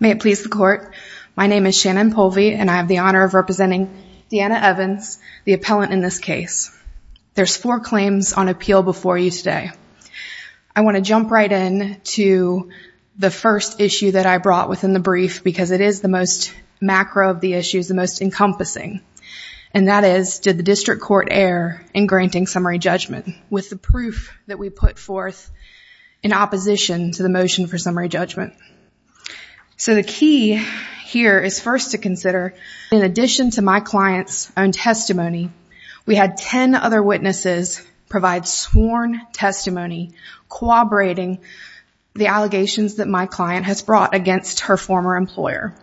May it please the Court, my name is Shannon Polvey and I have the honor of representing Deanna Evans, the appellant in this case. There's four claims on appeal before you today. I want to jump right in to the first issue that I brought within the brief because it is the most macro of the issues, the most encompassing, and that is, did the District Court err in granting summary judgment with the proof that we put forth in opposition to the motion for summary judgment. So the key here is first to consider, in addition to my client's own testimony, we had ten other witnesses provide sworn testimony corroborating the allegations that my client has brought against her former employer.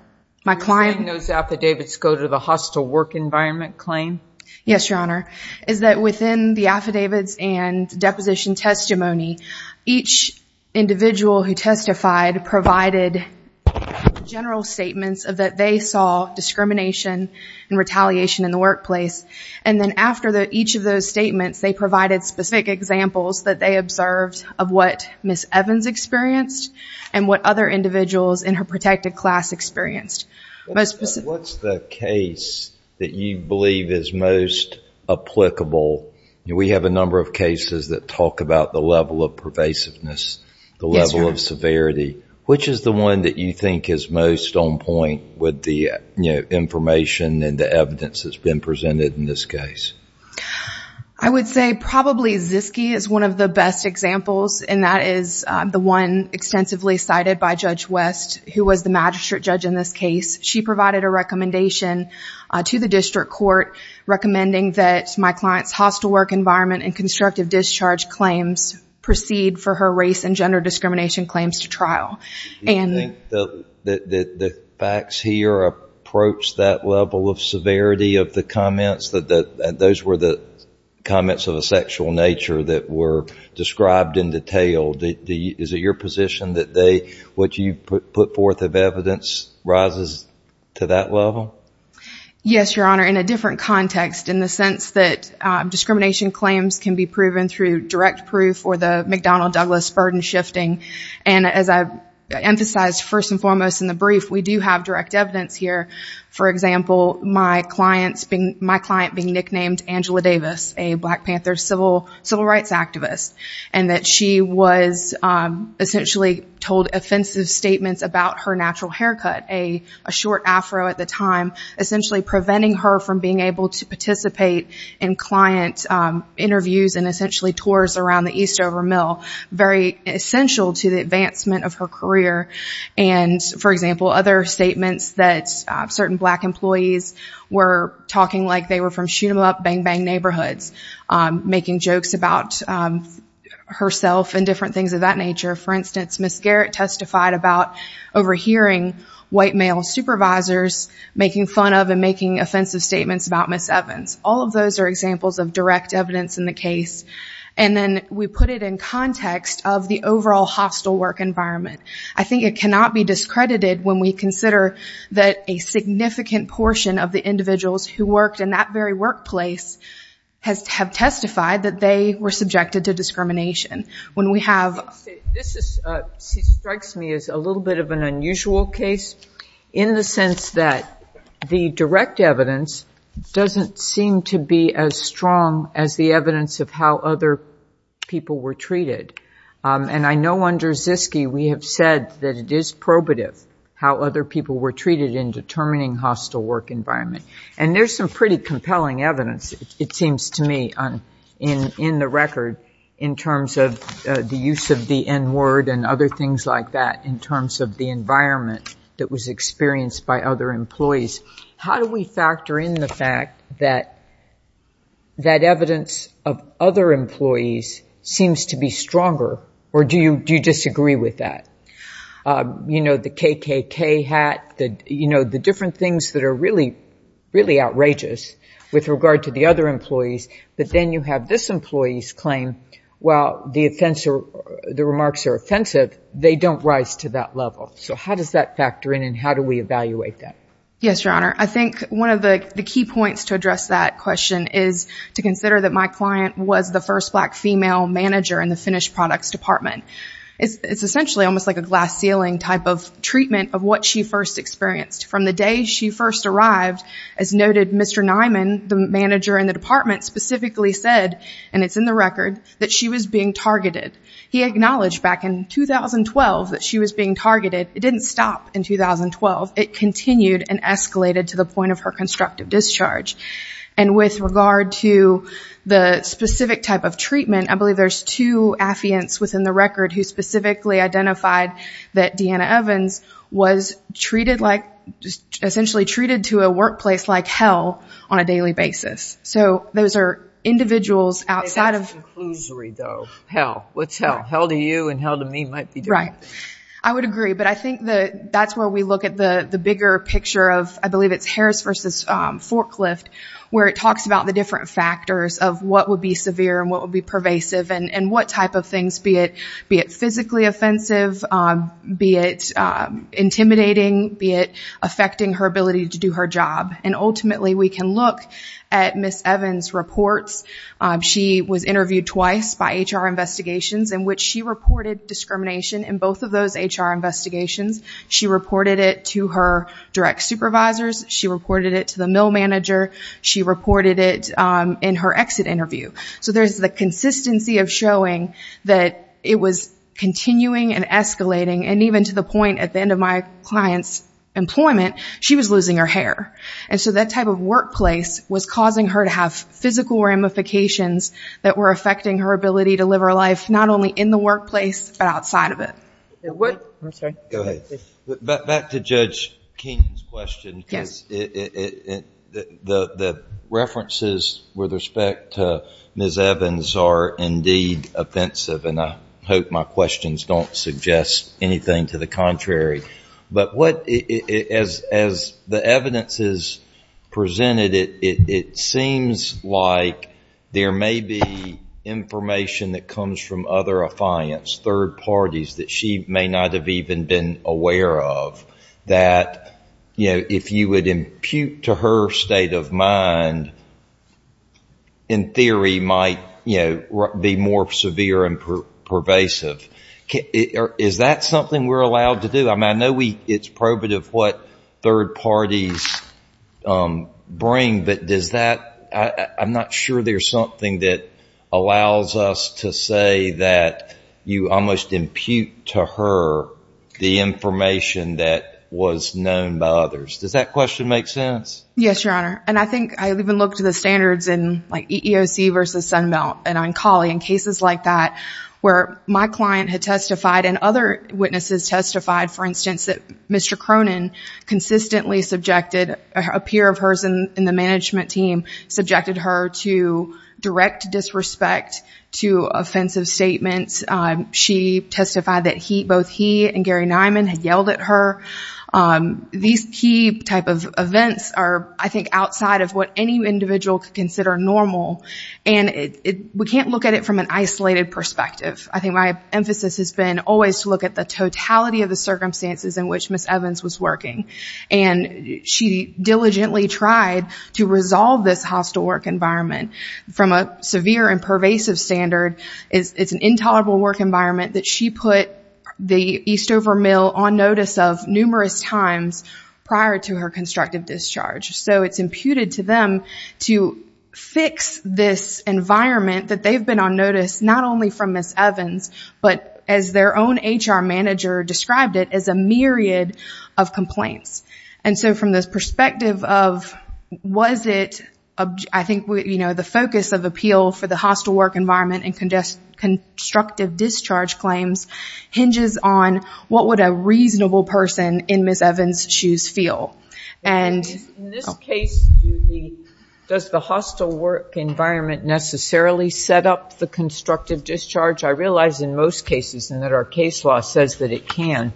My client... You're saying those affidavits go to the hostile work environment claim? Yes, Your Honor, is that within the affidavits and deposition testimony, each individual who testified provided general statements that they saw discrimination and retaliation in the workplace, and then after each of those statements, they provided specific examples that they observed of what Ms. Evans experienced and what other individuals in her protected class experienced. What's the case that you believe is most applicable? We have a number of cases that talk about the level of pervasiveness, the level of severity. Which is the one that you think is most on point with the information and the evidence that's been presented in this case? I would say probably Ziske is one of the best examples, and that is the one extensively cited by Judge West, who was the magistrate judge in this case. She provided a recommendation to the district court recommending that my client's hostile work environment and constructive discharge claims proceed for her race and gender discrimination claims to trial. Do you think the facts here approach that level of severity of the comments? Those were the comments of a sexual nature that were described in detail. Is it your position that what you put forth of evidence rises to that level? Yes, Your Honor. In a different context, in the sense that discrimination claims can be proven through direct proof or the McDonnell-Douglas burden shifting, and as I emphasized first and foremost in the brief, we do have direct evidence here. For example, my client being essentially told offensive statements about her natural haircut, a short afro at the time, essentially preventing her from being able to participate in client interviews and essentially tours around the Eastover Mill, very essential to the advancement of her career. For example, other statements that certain black employees were talking like they were from shoot-em-up, bang-bang neighborhoods, making jokes about herself and different things of that nature. For instance, Ms. Garrett testified about overhearing white male supervisors making fun of and making offensive statements about Ms. Evans. All of those are examples of direct evidence in the case. And then we put it in context of the overall hostile work environment. I think it cannot be discredited when we consider that a significant portion of the individuals who worked in that very workplace have testified that they were subjected to discrimination. When we have... This strikes me as a little bit of an unusual case in the sense that the direct evidence doesn't seem to be as strong as the evidence of how other people were treated. And I know under Ziske, we have said that it is probative how other people were treated in determining hostile work environment. And there's some pretty compelling evidence, it seems to me, in the record in terms of the use of the N-word and other things like that in terms of the environment that was experienced by other employees. How do we factor in the fact that evidence of other employees seems to be stronger, or do you disagree with that? The KKK hat, the different things that are really, really outrageous with regard to the other employees, but then you have this employee's claim, while the remarks are offensive, they don't rise to that level. So how does that factor in and how do we evaluate that? Yes, Your Honor. I think one of the key points to address that question is to consider that my client was the first black female manager in the finished products department. It's essentially almost like a glass ceiling type of treatment of what she first experienced. From the day she first arrived, as noted, Mr. Niman, the manager in the department, specifically said, and it's in the record, that she was being targeted. He acknowledged back in 2012 that she was being targeted. It didn't stop in 2012. It continued and escalated to the point of her constructive discharge. And with regard to the specific type of treatment, I believe there's two affiants within the record who specifically identified that Deanna essentially treated to a workplace like hell on a daily basis. So those are individuals outside of... It's a conclusory though. Hell. What's hell? Hell to you and hell to me might be different. Right. I would agree, but I think that's where we look at the bigger picture of, I believe it's Harris versus Forklift, where it talks about the different factors of what would be severe and what would be pervasive and what type of things, be it physically offensive, be it intimidating, be it affecting her ability to do her job. And ultimately, we can look at Ms. Evans' reports. She was interviewed twice by HR Investigations in which she reported discrimination in both of those HR Investigations. She reported it to her direct supervisors. She reported it to the mill manager. She reported it in her exit interview. So there's the consistency of showing that it was continuing and escalating. And even to the point at the end of my client's employment, she was losing her hair. And so that type of workplace was causing her to have physical ramifications that were affecting her ability to live her life, not only in the workplace, but outside of it. Back to Judge Keenan's question. The references with respect to Ms. Evans are indeed offensive. And I hope my questions don't suggest anything to the contrary. But as the evidence is presented, it seems like there may be information that comes from other affiance, third parties that she may not have even been aware of, that if you would impute to her state of mind, in theory, might be more severe and pervasive. Is that something we're allowed to do? I mean, I know it's probative what third parties bring, but does that, I'm not sure there's something that allows us to say that you almost impute to her the information that was known by others. Does that question make sense? Yes, Your Honor. And I think I've even looked at the standards in like EEOC versus Sunbelt and Oncology and cases like that, where my client had testified and other witnesses testified, for instance, that Mr. Cronin consistently subjected, a peer of hers in the management team subjected her to direct disrespect to offensive statements. She testified that he, both he and I think outside of what any individual could consider normal. And we can't look at it from an isolated perspective. I think my emphasis has been always to look at the totality of the circumstances in which Ms. Evans was working. And she diligently tried to resolve this hostile work environment from a severe and pervasive standard. It's an intolerable work environment that she put the Eastover Mill on notice of numerous times prior to her constructive discharge. So it's imputed to them to fix this environment that they've been on notice, not only from Ms. Evans, but as their own HR manager described it as a myriad of complaints. And so from this perspective of was it, I think the focus of appeal for the hostile work environment and constructive discharge claims hinges on what would a reasonable person in Ms. In this case, does the hostile work environment necessarily set up the constructive discharge? I realize in most cases and that our case law says that it can.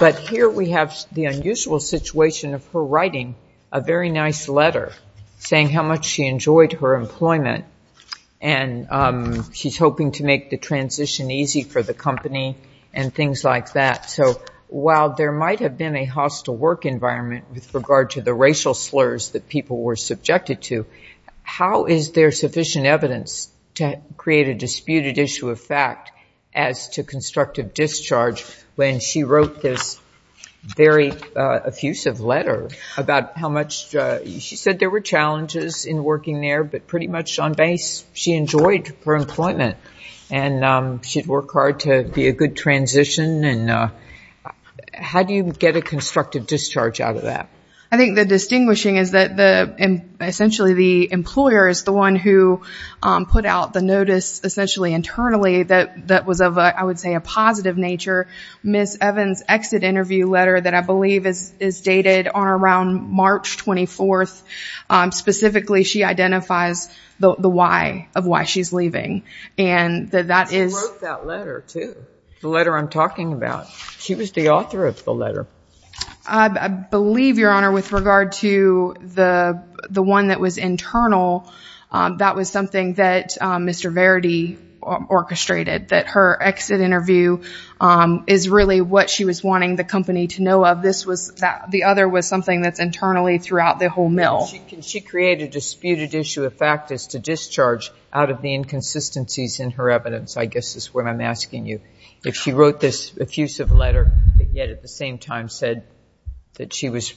But here we have the unusual situation of her writing a very nice letter saying how much she enjoyed her employment. And she's hoping to make the transition easy for the company and things like that. So while there might have been a hostile work environment with regard to the racial slurs that people were subjected to, how is there sufficient evidence to create a disputed issue of fact as to constructive discharge when she wrote this very effusive letter about how much she said there were challenges in working there, but pretty much on base, she enjoyed her employment. And she'd work hard to be a good transition. And how do you get a constructive discharge out of that? I think the distinguishing is that essentially the employer is the one who put out the notice essentially internally that was of, I would say, a positive nature. Ms. Evans' exit interview letter that I believe is dated on around March 24th, specifically she identifies the why of why she's leaving. She wrote that letter too, the letter I'm talking about. She was the author of the letter. I believe, Your Honor, with regard to the one that was internal, that was something that Mr. Verity orchestrated, that her exit interview is really what she was wanting the company to know of. The other was something that's internally throughout the whole mill. She created a disputed issue of fact as to discharge out of the inconsistencies in her evidence, I guess is what I'm asking you. If she wrote this effusive letter, yet at the same time said that she was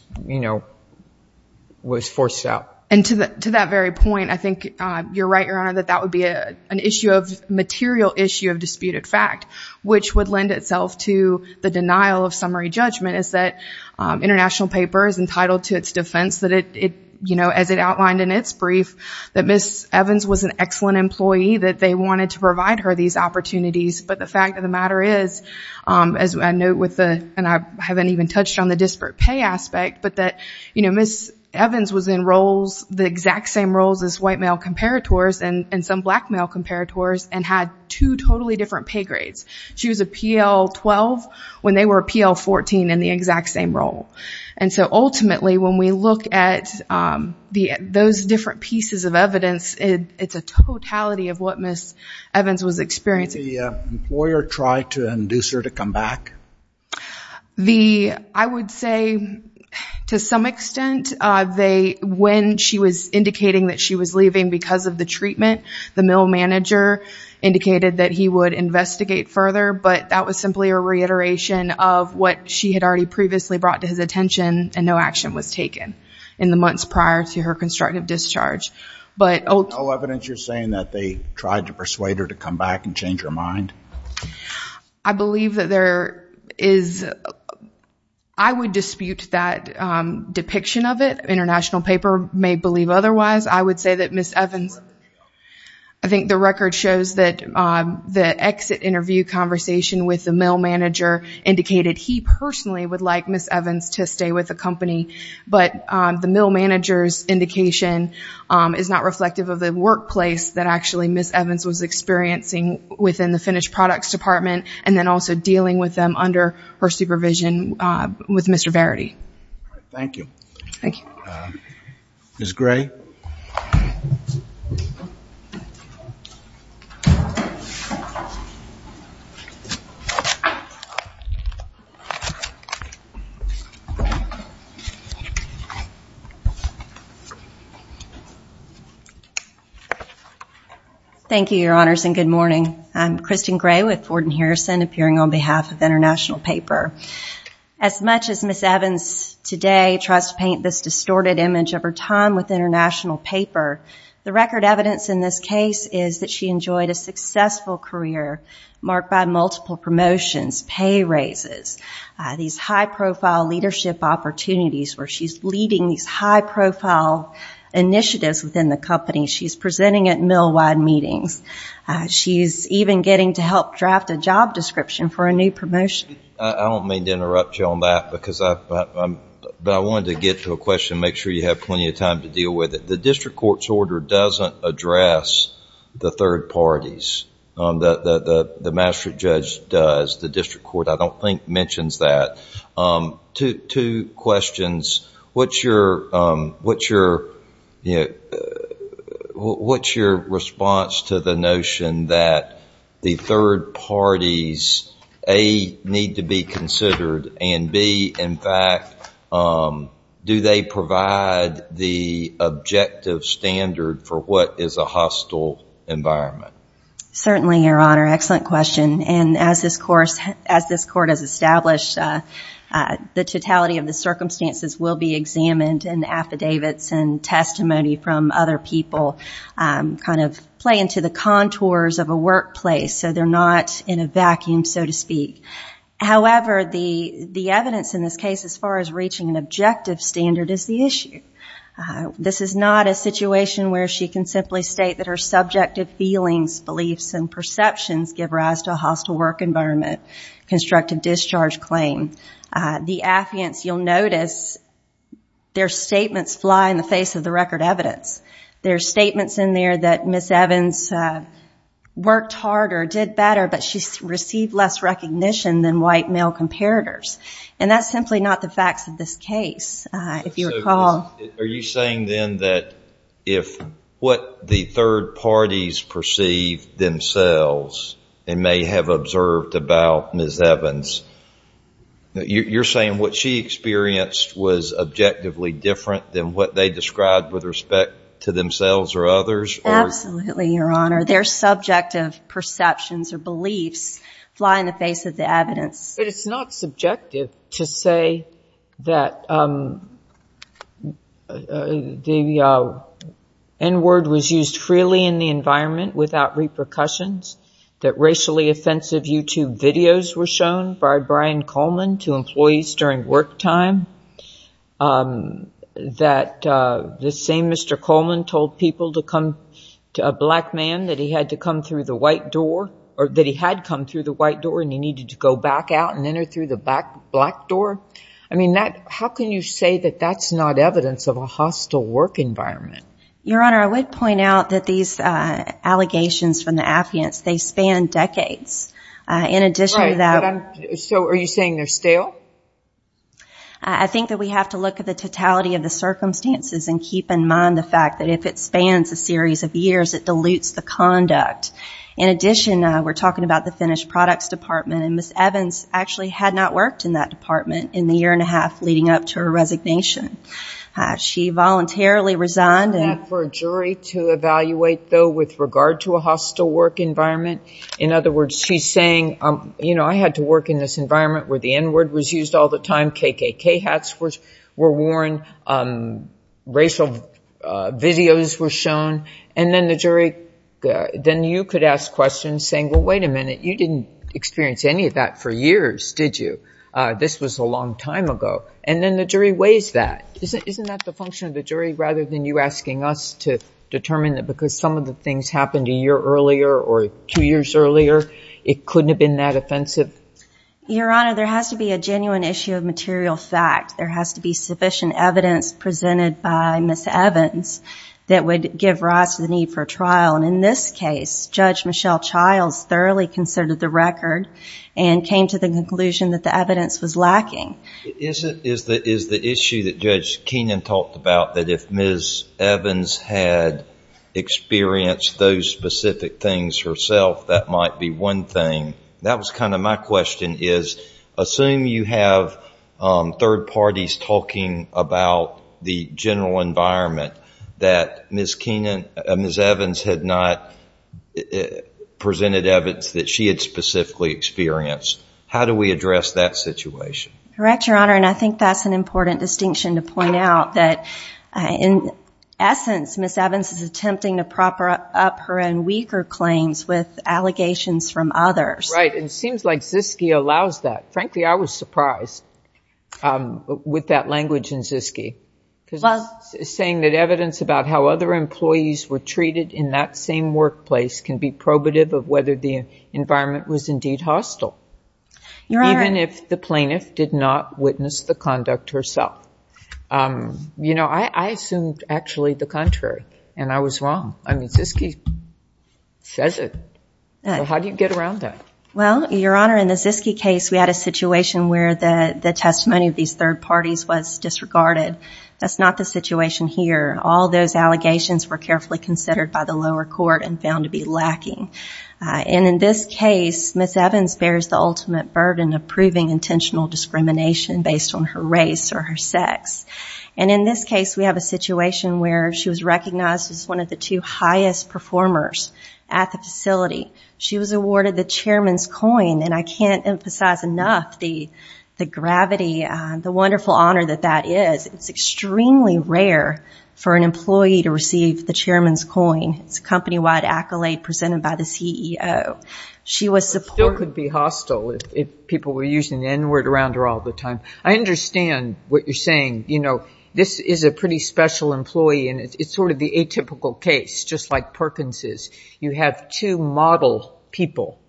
forced out. And to that very point, I think you're right, Your Honor, that that would be an issue of material issue of disputed fact, which would lend itself to the denial of summary judgment is that International Paper is entitled to its defense as it outlined in its brief, that Ms. Evans was an excellent employee, that they wanted to provide her these opportunities. But the fact of the matter is, as I note with the, and I haven't even touched on the disparate pay aspect, but that Ms. Evans was in roles, the exact same roles as white male comparators and some black male comparators and had two totally different pay when they were PL14 in the exact same role. And so ultimately, when we look at those different pieces of evidence, it's a totality of what Ms. Evans was experiencing. The employer tried to induce her to come back? The, I would say to some extent, they, when she was indicating that she was leaving because of the treatment, the mill manager indicated that he would investigate further, but that was simply a reiteration of what she had already previously brought to his attention and no action was taken in the months prior to her constructive discharge. But ultimately- No evidence you're saying that they tried to persuade her to come back and change her mind? I believe that there is, I would dispute that depiction of it. International Paper may believe otherwise. I would say that Ms. Evans, I think the record shows that the exit interview conversation with the mill manager indicated he personally would like Ms. Evans to stay with the company, but the mill manager's indication is not reflective of the workplace that actually Ms. Evans was experiencing within the finished products department and then also dealing with them under her supervision with Mr. Verity. Thank you. Ms. Gray? Thank you, Your Honors, and good morning. I'm Kristen Gray with Ford & Harrison appearing on behalf of International Paper. As much as Ms. Evans today tries to paint this distorted image of her time with International Paper, the record evidence in this case is that she enjoyed a successful career marked by multiple promotions, pay raises, these high-profile leadership opportunities where she's leading these high-profile initiatives within the company. She's presenting at mill-wide meetings. She's even getting to help draft a job description for a new promotion. I don't mean to interrupt you on that, but I wanted to get to a question, make sure you have plenty of time to deal with it. The district court's order doesn't address the third parties. The Maastricht judge does. The district court, I don't think, mentions that. Two questions. What's your response to the notion that the third parties, A, need to be considered and, B, in fact, do they provide the objective standard for what is a hostile environment? Certainly, Your Honor. Excellent question. As this court has established, the totality of the circumstances will be examined and affidavits and testimony from other people kind of play into the contours of a workplace, so they're not in a vacuum, so to speak. However, the evidence in this case as far as reaching an objective standard is the issue. This is not a situation where she can simply state that her subjective feelings, beliefs, and perceptions give rise to a hostile work environment, constructive discharge claim. The affidavits, you'll notice their statements fly in the face of the record evidence. There are statements in there that Ms. Evans worked harder, did better, but she received less recognition than white male comparators. That's simply not the facts of this case. Are you saying then that if what the third parties perceive themselves and may have observed about Ms. Evans, you're saying what she experienced was objectively different than what they described with respect to themselves or others? Absolutely, Your Honor. Their subjective perceptions or beliefs fly in the face of the evidence. It's not subjective to say that the N-word was used freely in the environment without repercussions, that racially offensive YouTube videos were shown by Brian Coleman to employees during work time, that the same Mr. Coleman told people to come to a black man that he had to come the white door and he needed to go back out and enter through the black door. How can you say that that's not evidence of a hostile work environment? Your Honor, I would point out that these allegations from the affidavits, they span decades. Are you saying they're stale? I think that we have to look at the totality of the circumstances and keep in mind the fact that if it spans a series of years, it dilutes the conduct. In addition, we're talking about the finished products department and Ms. Evans actually had not worked in that department in the year and a half leading up to her resignation. She voluntarily resigned. Is that for a jury to evaluate though with regard to a hostile work environment? In other words, she's saying, I had to work in this environment where the N-word was used all the time, KKK hats were worn, racial videos were shown, and then you could ask questions saying, well, wait a minute, you didn't experience any of that for years, did you? This was a long time ago. And then the jury weighs that. Isn't that the function of the jury rather than you asking us to determine that because some of the things happened a year earlier or two years earlier, it couldn't have been that offensive? Your Honor, there has to be a genuine issue of material fact. There has to be sufficient evidence presented by Ms. Evans that would give rise to the need for a trial. And in this case, Judge Michelle Childs thoroughly considered the record and came to the conclusion that the evidence was lacking. Is the issue that Judge Kenan talked about that if Ms. Evans had experienced those specific things herself, that might be one thing? That was kind of my question is, assume you have third parties talking about the general environment that Ms. Evans had not presented evidence that she had specifically experienced. How do we address that situation? Correct, Your Honor. And I think that's an important distinction to point out that in essence, Ms. Evans is attempting to prop up her and weaker claims with allegations from others. Right. And it seems like Zyske allows that. Frankly, I was surprised with that language in Zyske because it's saying that evidence about how other employees were treated in that same workplace can be probative of whether the environment was indeed hostile, even if the plaintiff did not witness the conduct herself. You know, I assumed actually the contrary and I was wrong. I mean, Zyske says it. How do you get around that? Well, Your Honor, in the Zyske case, we had a situation where the testimony of these third parties was disregarded. That's not the situation here. All those allegations were carefully considered by the lower court and found to be lacking. And in this case, Ms. Evans bears the ultimate burden of proving intentional discrimination based on her race or her sex. And in this case, we have a situation where she was recognized as one of the two highest performers at the facility. She was awarded the Chairman's Coin. And I can't emphasize enough the gravity, the wonderful honor that that is. It's extremely rare for an employee to receive the Chairman's Coin. It's a company-wide accolade presented by the CEO. She was supported. It still could be hostile if people were using the N-word around her all the time. I understand what you're saying. You know, this is a pretty special employee and it's sort of the atypical case, just like Perkins is. You have two model people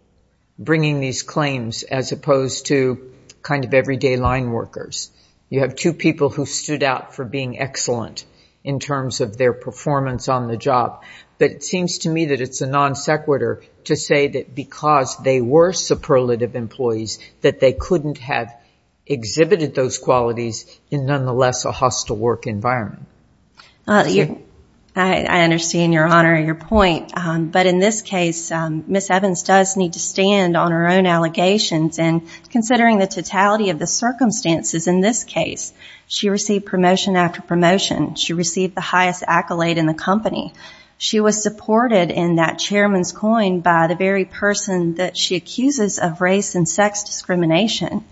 bringing these claims as opposed to kind of everyday line workers. You have two people who in terms of their performance on the job. But it seems to me that it's a non sequitur to say that because they were superlative employees, that they couldn't have exhibited those qualities in nonetheless a hostile work environment. I understand your honor, your point. But in this case, Ms. Evans does need to stand on her own allegations. And considering the totality of the She received the highest accolade in the company. She was supported in that Chairman's Coin by the very person that she accuses of race and sex discrimination.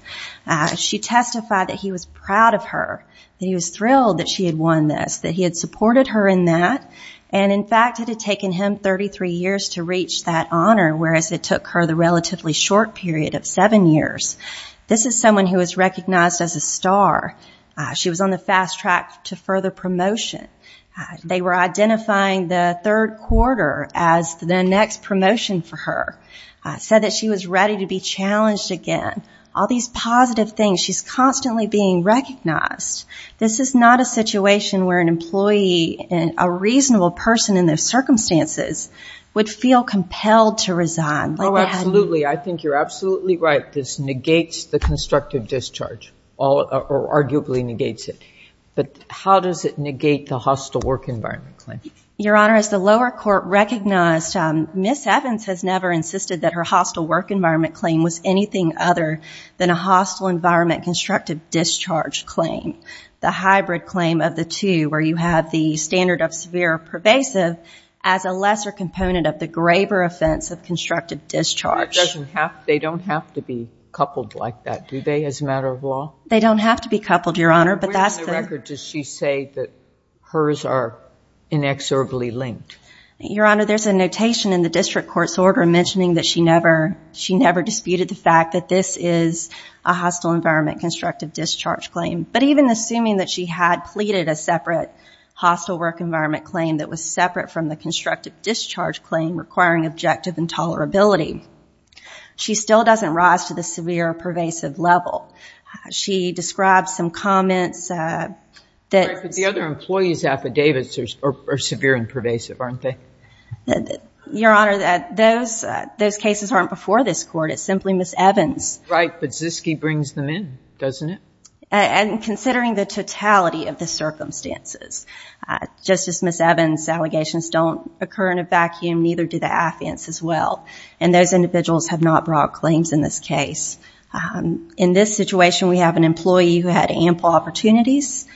She testified that he was proud of her, that he was thrilled that she had won this, that he had supported her in that. And in fact, it had taken him 33 years to reach that honor, whereas it took her the relatively short period of seven years. This is someone who was recognized as a star. She was on the fast track to further promotion. They were identifying the third quarter as the next promotion for her. Said that she was ready to be challenged again. All these positive things. She's constantly being recognized. This is not a situation where an employee, a reasonable person in those circumstances would feel compelled to resign. Absolutely. I think you're absolutely right. This negates the constructive discharge, or arguably negates it. But how does it negate the hostile work environment claim? Your Honor, as the lower court recognized, Ms. Evans has never insisted that her hostile work environment claim was anything other than a hostile environment constructive discharge claim. The hybrid claim of the two, where you have the standard of severe pervasive as a lesser component of the graver offense of constructive discharge. They don't have to be coupled like that, do they, as a matter of law? They don't have to be coupled, Your Honor, but that's the- Where in the record does she say that hers are inexorably linked? Your Honor, there's a notation in the district court's order mentioning that she never disputed the fact that this is a hostile environment constructive discharge claim. But even assuming that she had pleaded a separate hostile work environment claim that was separate from the constructive discharge claim requiring objective intolerability, she still doesn't rise to the severe pervasive level. She describes some comments that- But the other employees' affidavits are severe and pervasive, aren't they? Your Honor, those cases aren't before this court. It's simply Ms. Evans- Right, but Ziske brings them in, doesn't it? And considering the totality of the circumstances, just as Ms. Evans' allegations don't occur in a vacuum, neither do the affidavits as well. And those individuals have not brought claims in this case. In this situation, we have an employee who had ample opportunities.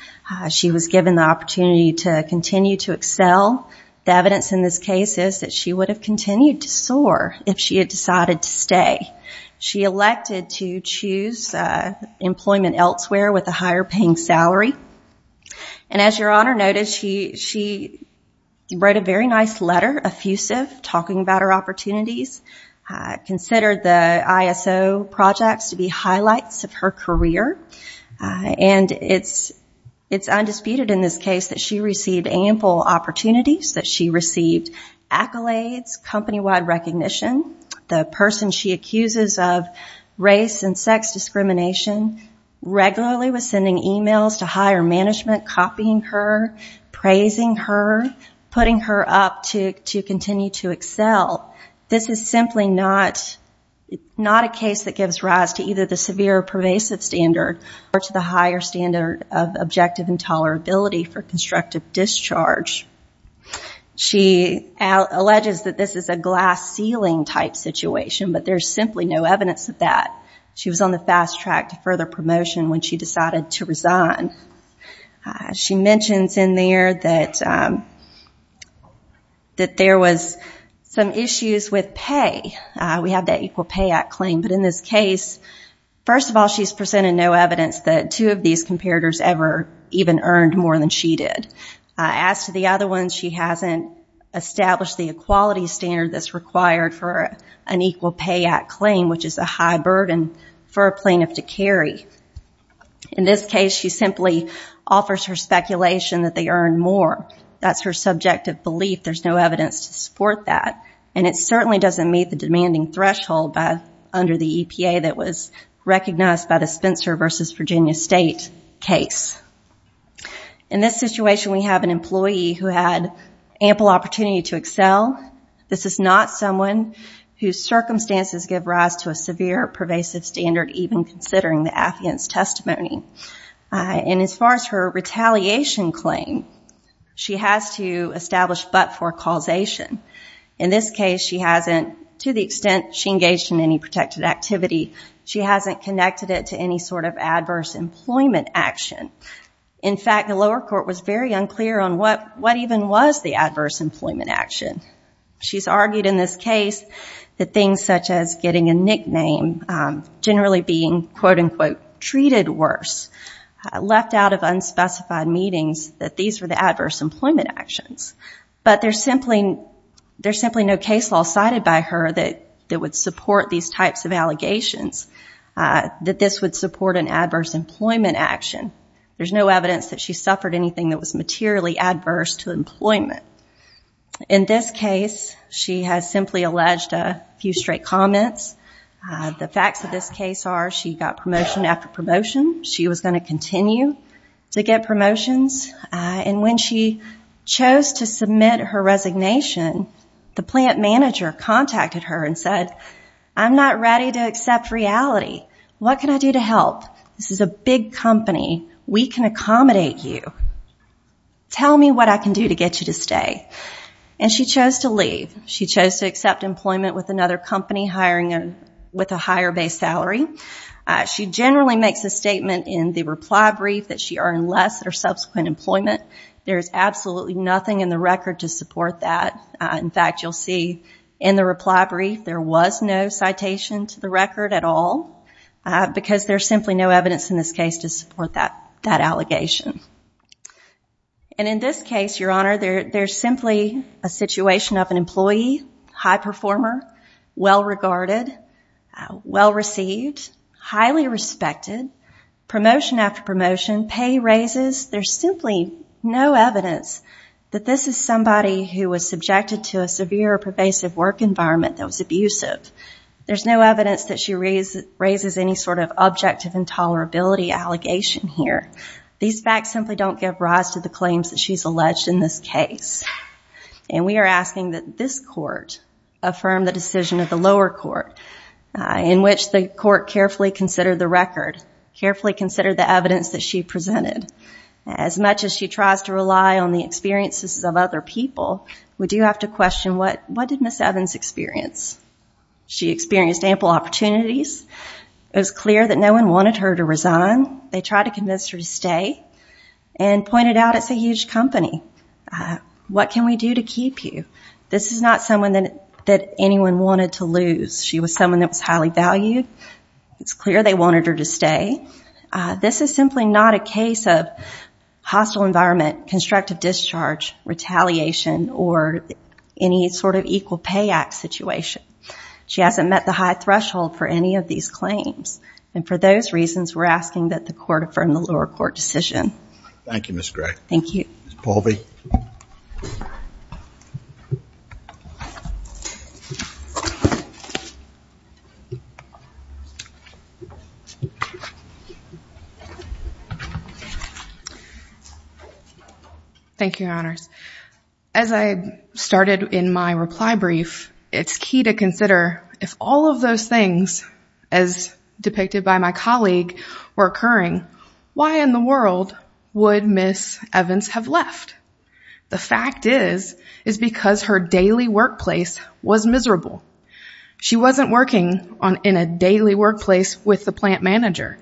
She was given the opportunity to continue to excel. The evidence in this case is that she would have continued to soar if she had decided to stay. She elected to choose employment elsewhere with a higher paying salary. And as Your Honor noted, she wrote a very nice letter, effusive, talking about her opportunities, considered the ISO projects to be highlights of her career. And it's undisputed in this case that she received ample opportunities, that she received accolades, company-wide recognition. The person she accuses of race and sex discrimination regularly was sending emails to higher management, copying her, praising her, putting her up to continue to excel. This is simply not a case that gives rise to either the severe or pervasive standard or to the higher standard of objective intolerability for constructive discharge. She alleges that this is a glass ceiling type situation, but there's simply no evidence of that. She was on the fast track to further promotion when she decided to resign. She mentions in there that there was some issues with pay. We have that Equal Pay Act claim. But in this case, first of all, she's presented no evidence that two of these comparators ever even earned more than she did. As to the other one, she hasn't established the equality standard that's required for an Equal Pay Act claim, which is a high burden for a plaintiff to carry. In this case, she simply offers her speculation that they earned more. That's her subjective belief. There's no evidence to support that. And it certainly doesn't meet the demanding threshold under the EPA that was recognized by the Spencer v. Virginia State case. In this situation, we have an employee who had ample opportunity to excel. This is not someone whose circumstances give rise to a severe pervasive standard, even considering the affiance testimony. And as far as her retaliation claim, she has to establish but for causation. In this case, she hasn't, to the extent she engaged in any protected activity, she hasn't connected it to any sort of adverse employment action. In fact, the lower court was very unclear on what even was the adverse employment action. She's argued in this case that things such as getting a nickname, generally being, quote unquote, treated worse, left out of unspecified meetings, that these were the adverse employment actions. But there's simply no case law cited by her that would support these types of allegations, that this would support an adverse employment action. There's no evidence that she suffered anything that was materially adverse to employment. In this case, she has simply alleged a few straight comments. The facts of this case are she got promotion after promotion. She was going to continue to get promotions. And when she chose to submit her resignation, the plant manager contacted her and said, I'm not ready to accept reality. What can I do to help? This is a big company. We can accommodate you. Tell me what I can do to get you to stay. And she chose to leave. She chose to accept employment with another company, with a higher base salary. She generally makes a statement in the reply brief that she earned less at her subsequent employment. There is absolutely nothing in the record to support that. In fact, you'll see in the reply brief there was no citation to the record at all, because there's simply no evidence in this case to support that allegation. And in this case, Your Honor, there's simply a situation of an employee, high performer, well-regarded, well-received, highly respected, promotion after promotion, pay raises. There's simply no evidence that this is somebody who was subjected to a severe, pervasive work environment that was abusive. There's no evidence that she raises any sort of objective intolerability allegation here. These facts simply don't give rise to the claims that she's alleged in this case. And we are asking that this court affirm the decision of the lower court, in which the court carefully considered the record, carefully considered the evidence that she presented. As much as she tries to rely on the experiences of other people, we do have to question what did Ms. Evans experience? She experienced ample opportunities. It was clear that no one wanted her to resign. They tried to convince her to stay and pointed out it's a huge company. What can we do to keep you? This is not someone that anyone wanted to lose. She was someone that was highly valued. It's clear they wanted her to stay. This is simply not a case of hostile environment, constructive discharge, retaliation, or any sort of equal pay act situation. She hasn't met the high threshold for any of these claims. And for those reasons, we're asking that the court affirm the lower court decision. Thank you, Ms. Gray. Thank you. Ms. Paulvey. Thank you, Your Honors. As I started in my reply brief, it's key to consider if all of those things, as depicted by my colleague, were occurring, why in the world would Ms. Evans have left? The fact is, is because her daily workplace was miserable. She wasn't working in a daily workplace with the plant manager.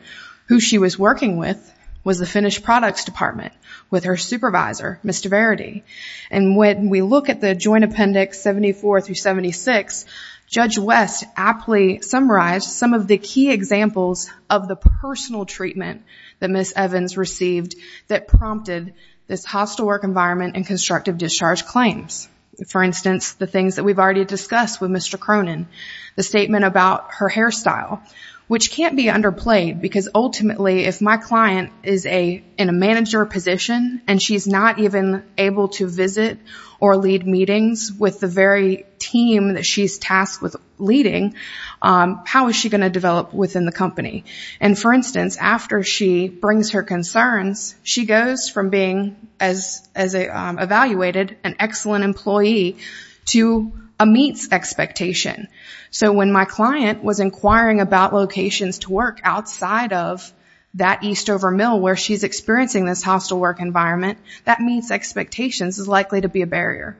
Who she was working with was the finished products department with her supervisor, Mr. Verity. And when we look at the joint appendix 74 through 76, Judge West aptly summarized some of the key examples of the personal treatment that Ms. Evans received that prompted this hostile work environment and constructive discharge claims. For instance, the things that we've already discussed with Mr. Cronin, the statement about her hairstyle, which can't be underplayed because ultimately, if my client is in a manager position and she's not even able to visit or lead meetings with the very team that she's tasked with leading, how is she going to develop within the company? And for instance, after she brings her concerns, she goes from being, as evaluated, an excellent employee to a meets expectation. So when my client was inquiring about locations to work outside of that Eastover Mill where she's experiencing this hostile work environment, that meets expectations is likely to be a barrier.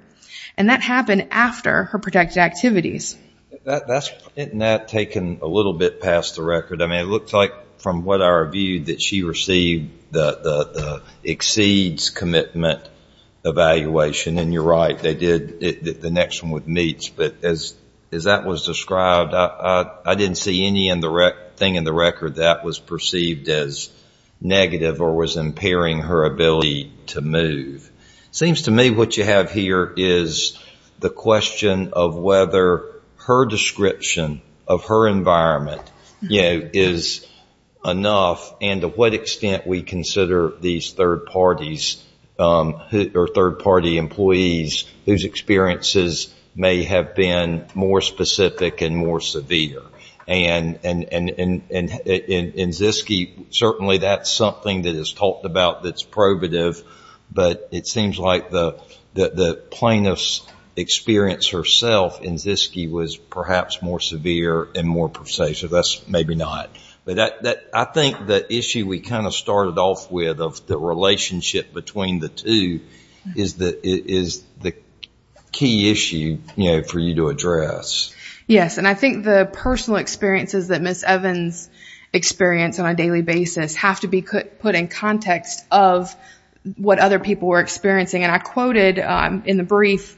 And that happened after her protected activities. That's taken a little bit past the record. I mean, it looks like from what I reviewed that she received the exceeds commitment evaluation. And you're right. They did the next one with meets. But as that was described, I didn't see anything in the record that was perceived as negative or was impairing her ability to move. It seems to me what you have here is the question of whether her description of her environment is enough and to what extent we consider these third parties or third party employees whose experiences may have been more specific and more severe. And in Zyske, certainly that's something that is talked about that's probative. But it seems like the plaintiff's experience herself in Zyske was perhaps more severe and more pervasive. That's maybe not. But I think the issue we kind of started off with the relationship between the two is the key issue for you to address. Yes. And I think the personal experiences that Ms. Evans experienced on a daily basis have to be put in context of what other people were experiencing. And I quoted in the brief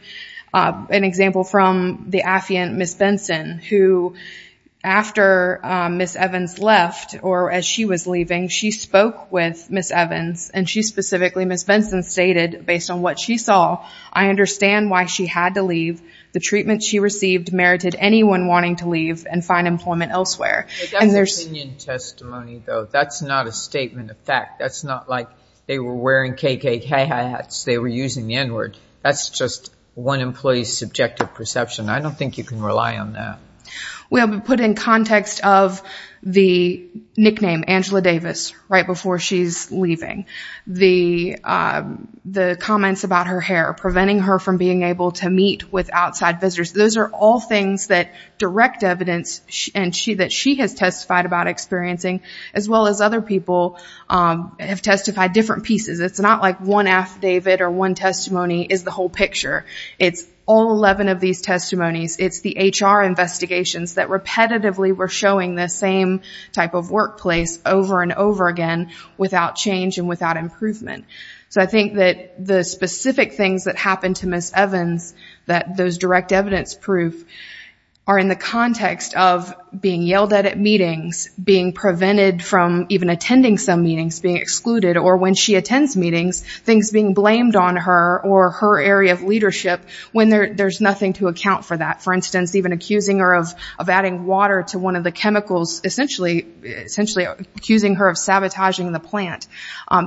an example from the affiant Ms. Benson who after Ms. Evans left or as she was leaving, she spoke with Ms. Evans and she specifically, Ms. Benson, stated based on what she saw, I understand why she had to leave. The treatment she received merited anyone wanting to leave and find employment elsewhere. But that's opinion testimony though. That's not a statement of fact. That's not like they were wearing KKK hats. They were using the N word. That's just one employee's subjective perception. I don't think you can rely on that. We'll put in context of the nickname, Angela Davis, right before she's leaving. The comments about her hair, preventing her from being able to meet with outside visitors. Those are all things that direct evidence that she has testified about experiencing as well as other people have testified different pieces. It's not like one affidavit or one testimony is the whole picture. It's all 11 of these testimonies. It's the HR investigations that repetitively were showing the same type of workplace over and over again without change and without improvement. So I think that the specific things that happened to Ms. Evans, that those direct evidence proof, are in the context of being yelled at at meetings, being prevented from even attending some meetings, being excluded, or when she attends meetings, things being blamed on her or her area of leadership when there's nothing to account for that. For instance, even accusing her of adding water to one of the chemicals, essentially accusing her of sabotaging the plant.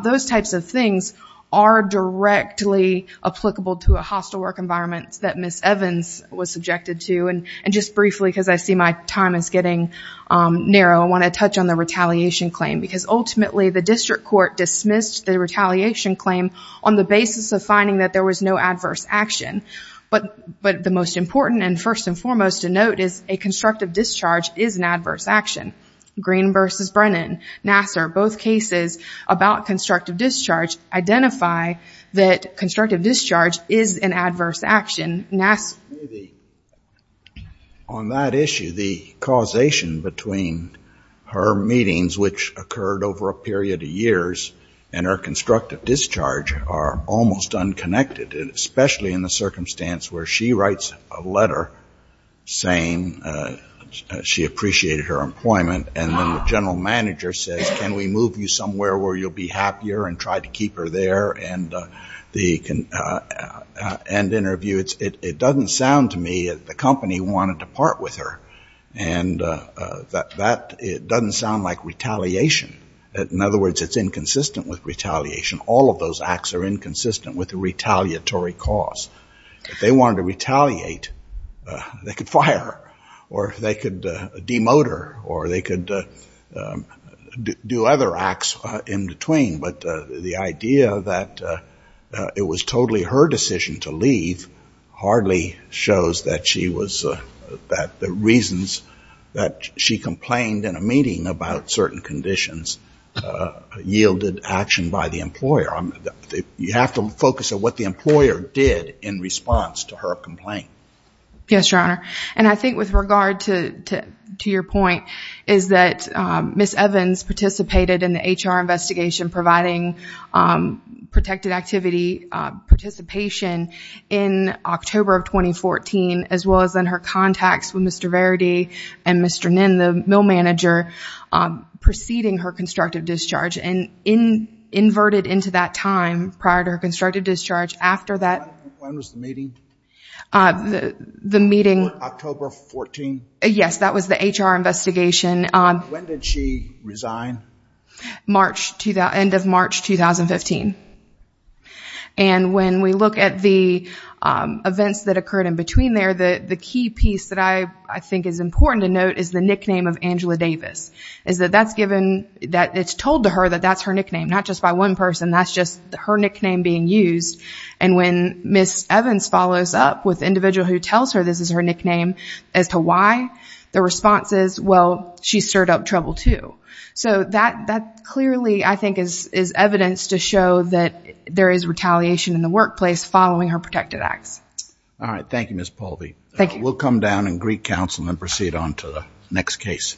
Those types of things are directly applicable to a hostile work environment that Ms. Evans was subjected to. And just briefly, because I see my time is getting narrow, I want to touch on the retaliation claim. Because ultimately, the district court dismissed the retaliation claim on the basis of finding that there was no adverse action. But the most important and first and foremost to note is a constructive discharge is an adverse action. Green versus Brennan, Nassar, both cases about constructive discharge identify that constructive discharge is an adverse action. Nassar... On that issue, the causation between her meetings, which occurred over a period of years, and her constructive discharge are almost unconnected, especially in the circumstance where she writes a letter saying she appreciated her employment. And then the general manager says, can we move you somewhere where you'll be happier and try to keep her there? And the end interview, it doesn't sound to me that the company wanted to part with her. And that doesn't sound like retaliation. In other words, it's inconsistent with retaliation. All of those acts are inconsistent with the retaliatory cause. If they wanted to retaliate, they could fire, or they could demote her, or they could do other acts in between. But the idea that it was totally her decision to leave hardly shows that the reasons that she complained in a meeting about certain conditions yielded action by the employer. You have to focus on what the employer did in response to her complaint. Yes, Your Honor. And I think with regard to your point, is that Ms. Evans participated in the HR investigation providing protected activity participation in October of 2014, as well as in her contacts with Mr. Verity and Mr. Ninn, the mill manager, preceding her constructive discharge and inverted into that time prior to her constructive discharge after that. When was the meeting? The meeting. October 14? Yes, that was the HR investigation. When did she resign? End of March 2015. And when we look at the events that occurred in between there, the key piece that I think is important to note is the nickname of Angela Davis. It's told to her that that's her nickname, not just by one person. That's just her nickname being used. And when Ms. Evans follows up with the individual who tells her this is her nickname as to why, the response is, well, she stirred up trouble too. So that clearly, I think, is evidence to show that there is retaliation in the workplace following her protected acts. All right. Thank you, Ms. Paulby. Thank you. We'll come down and greet counsel and proceed on to the next case. Thanks.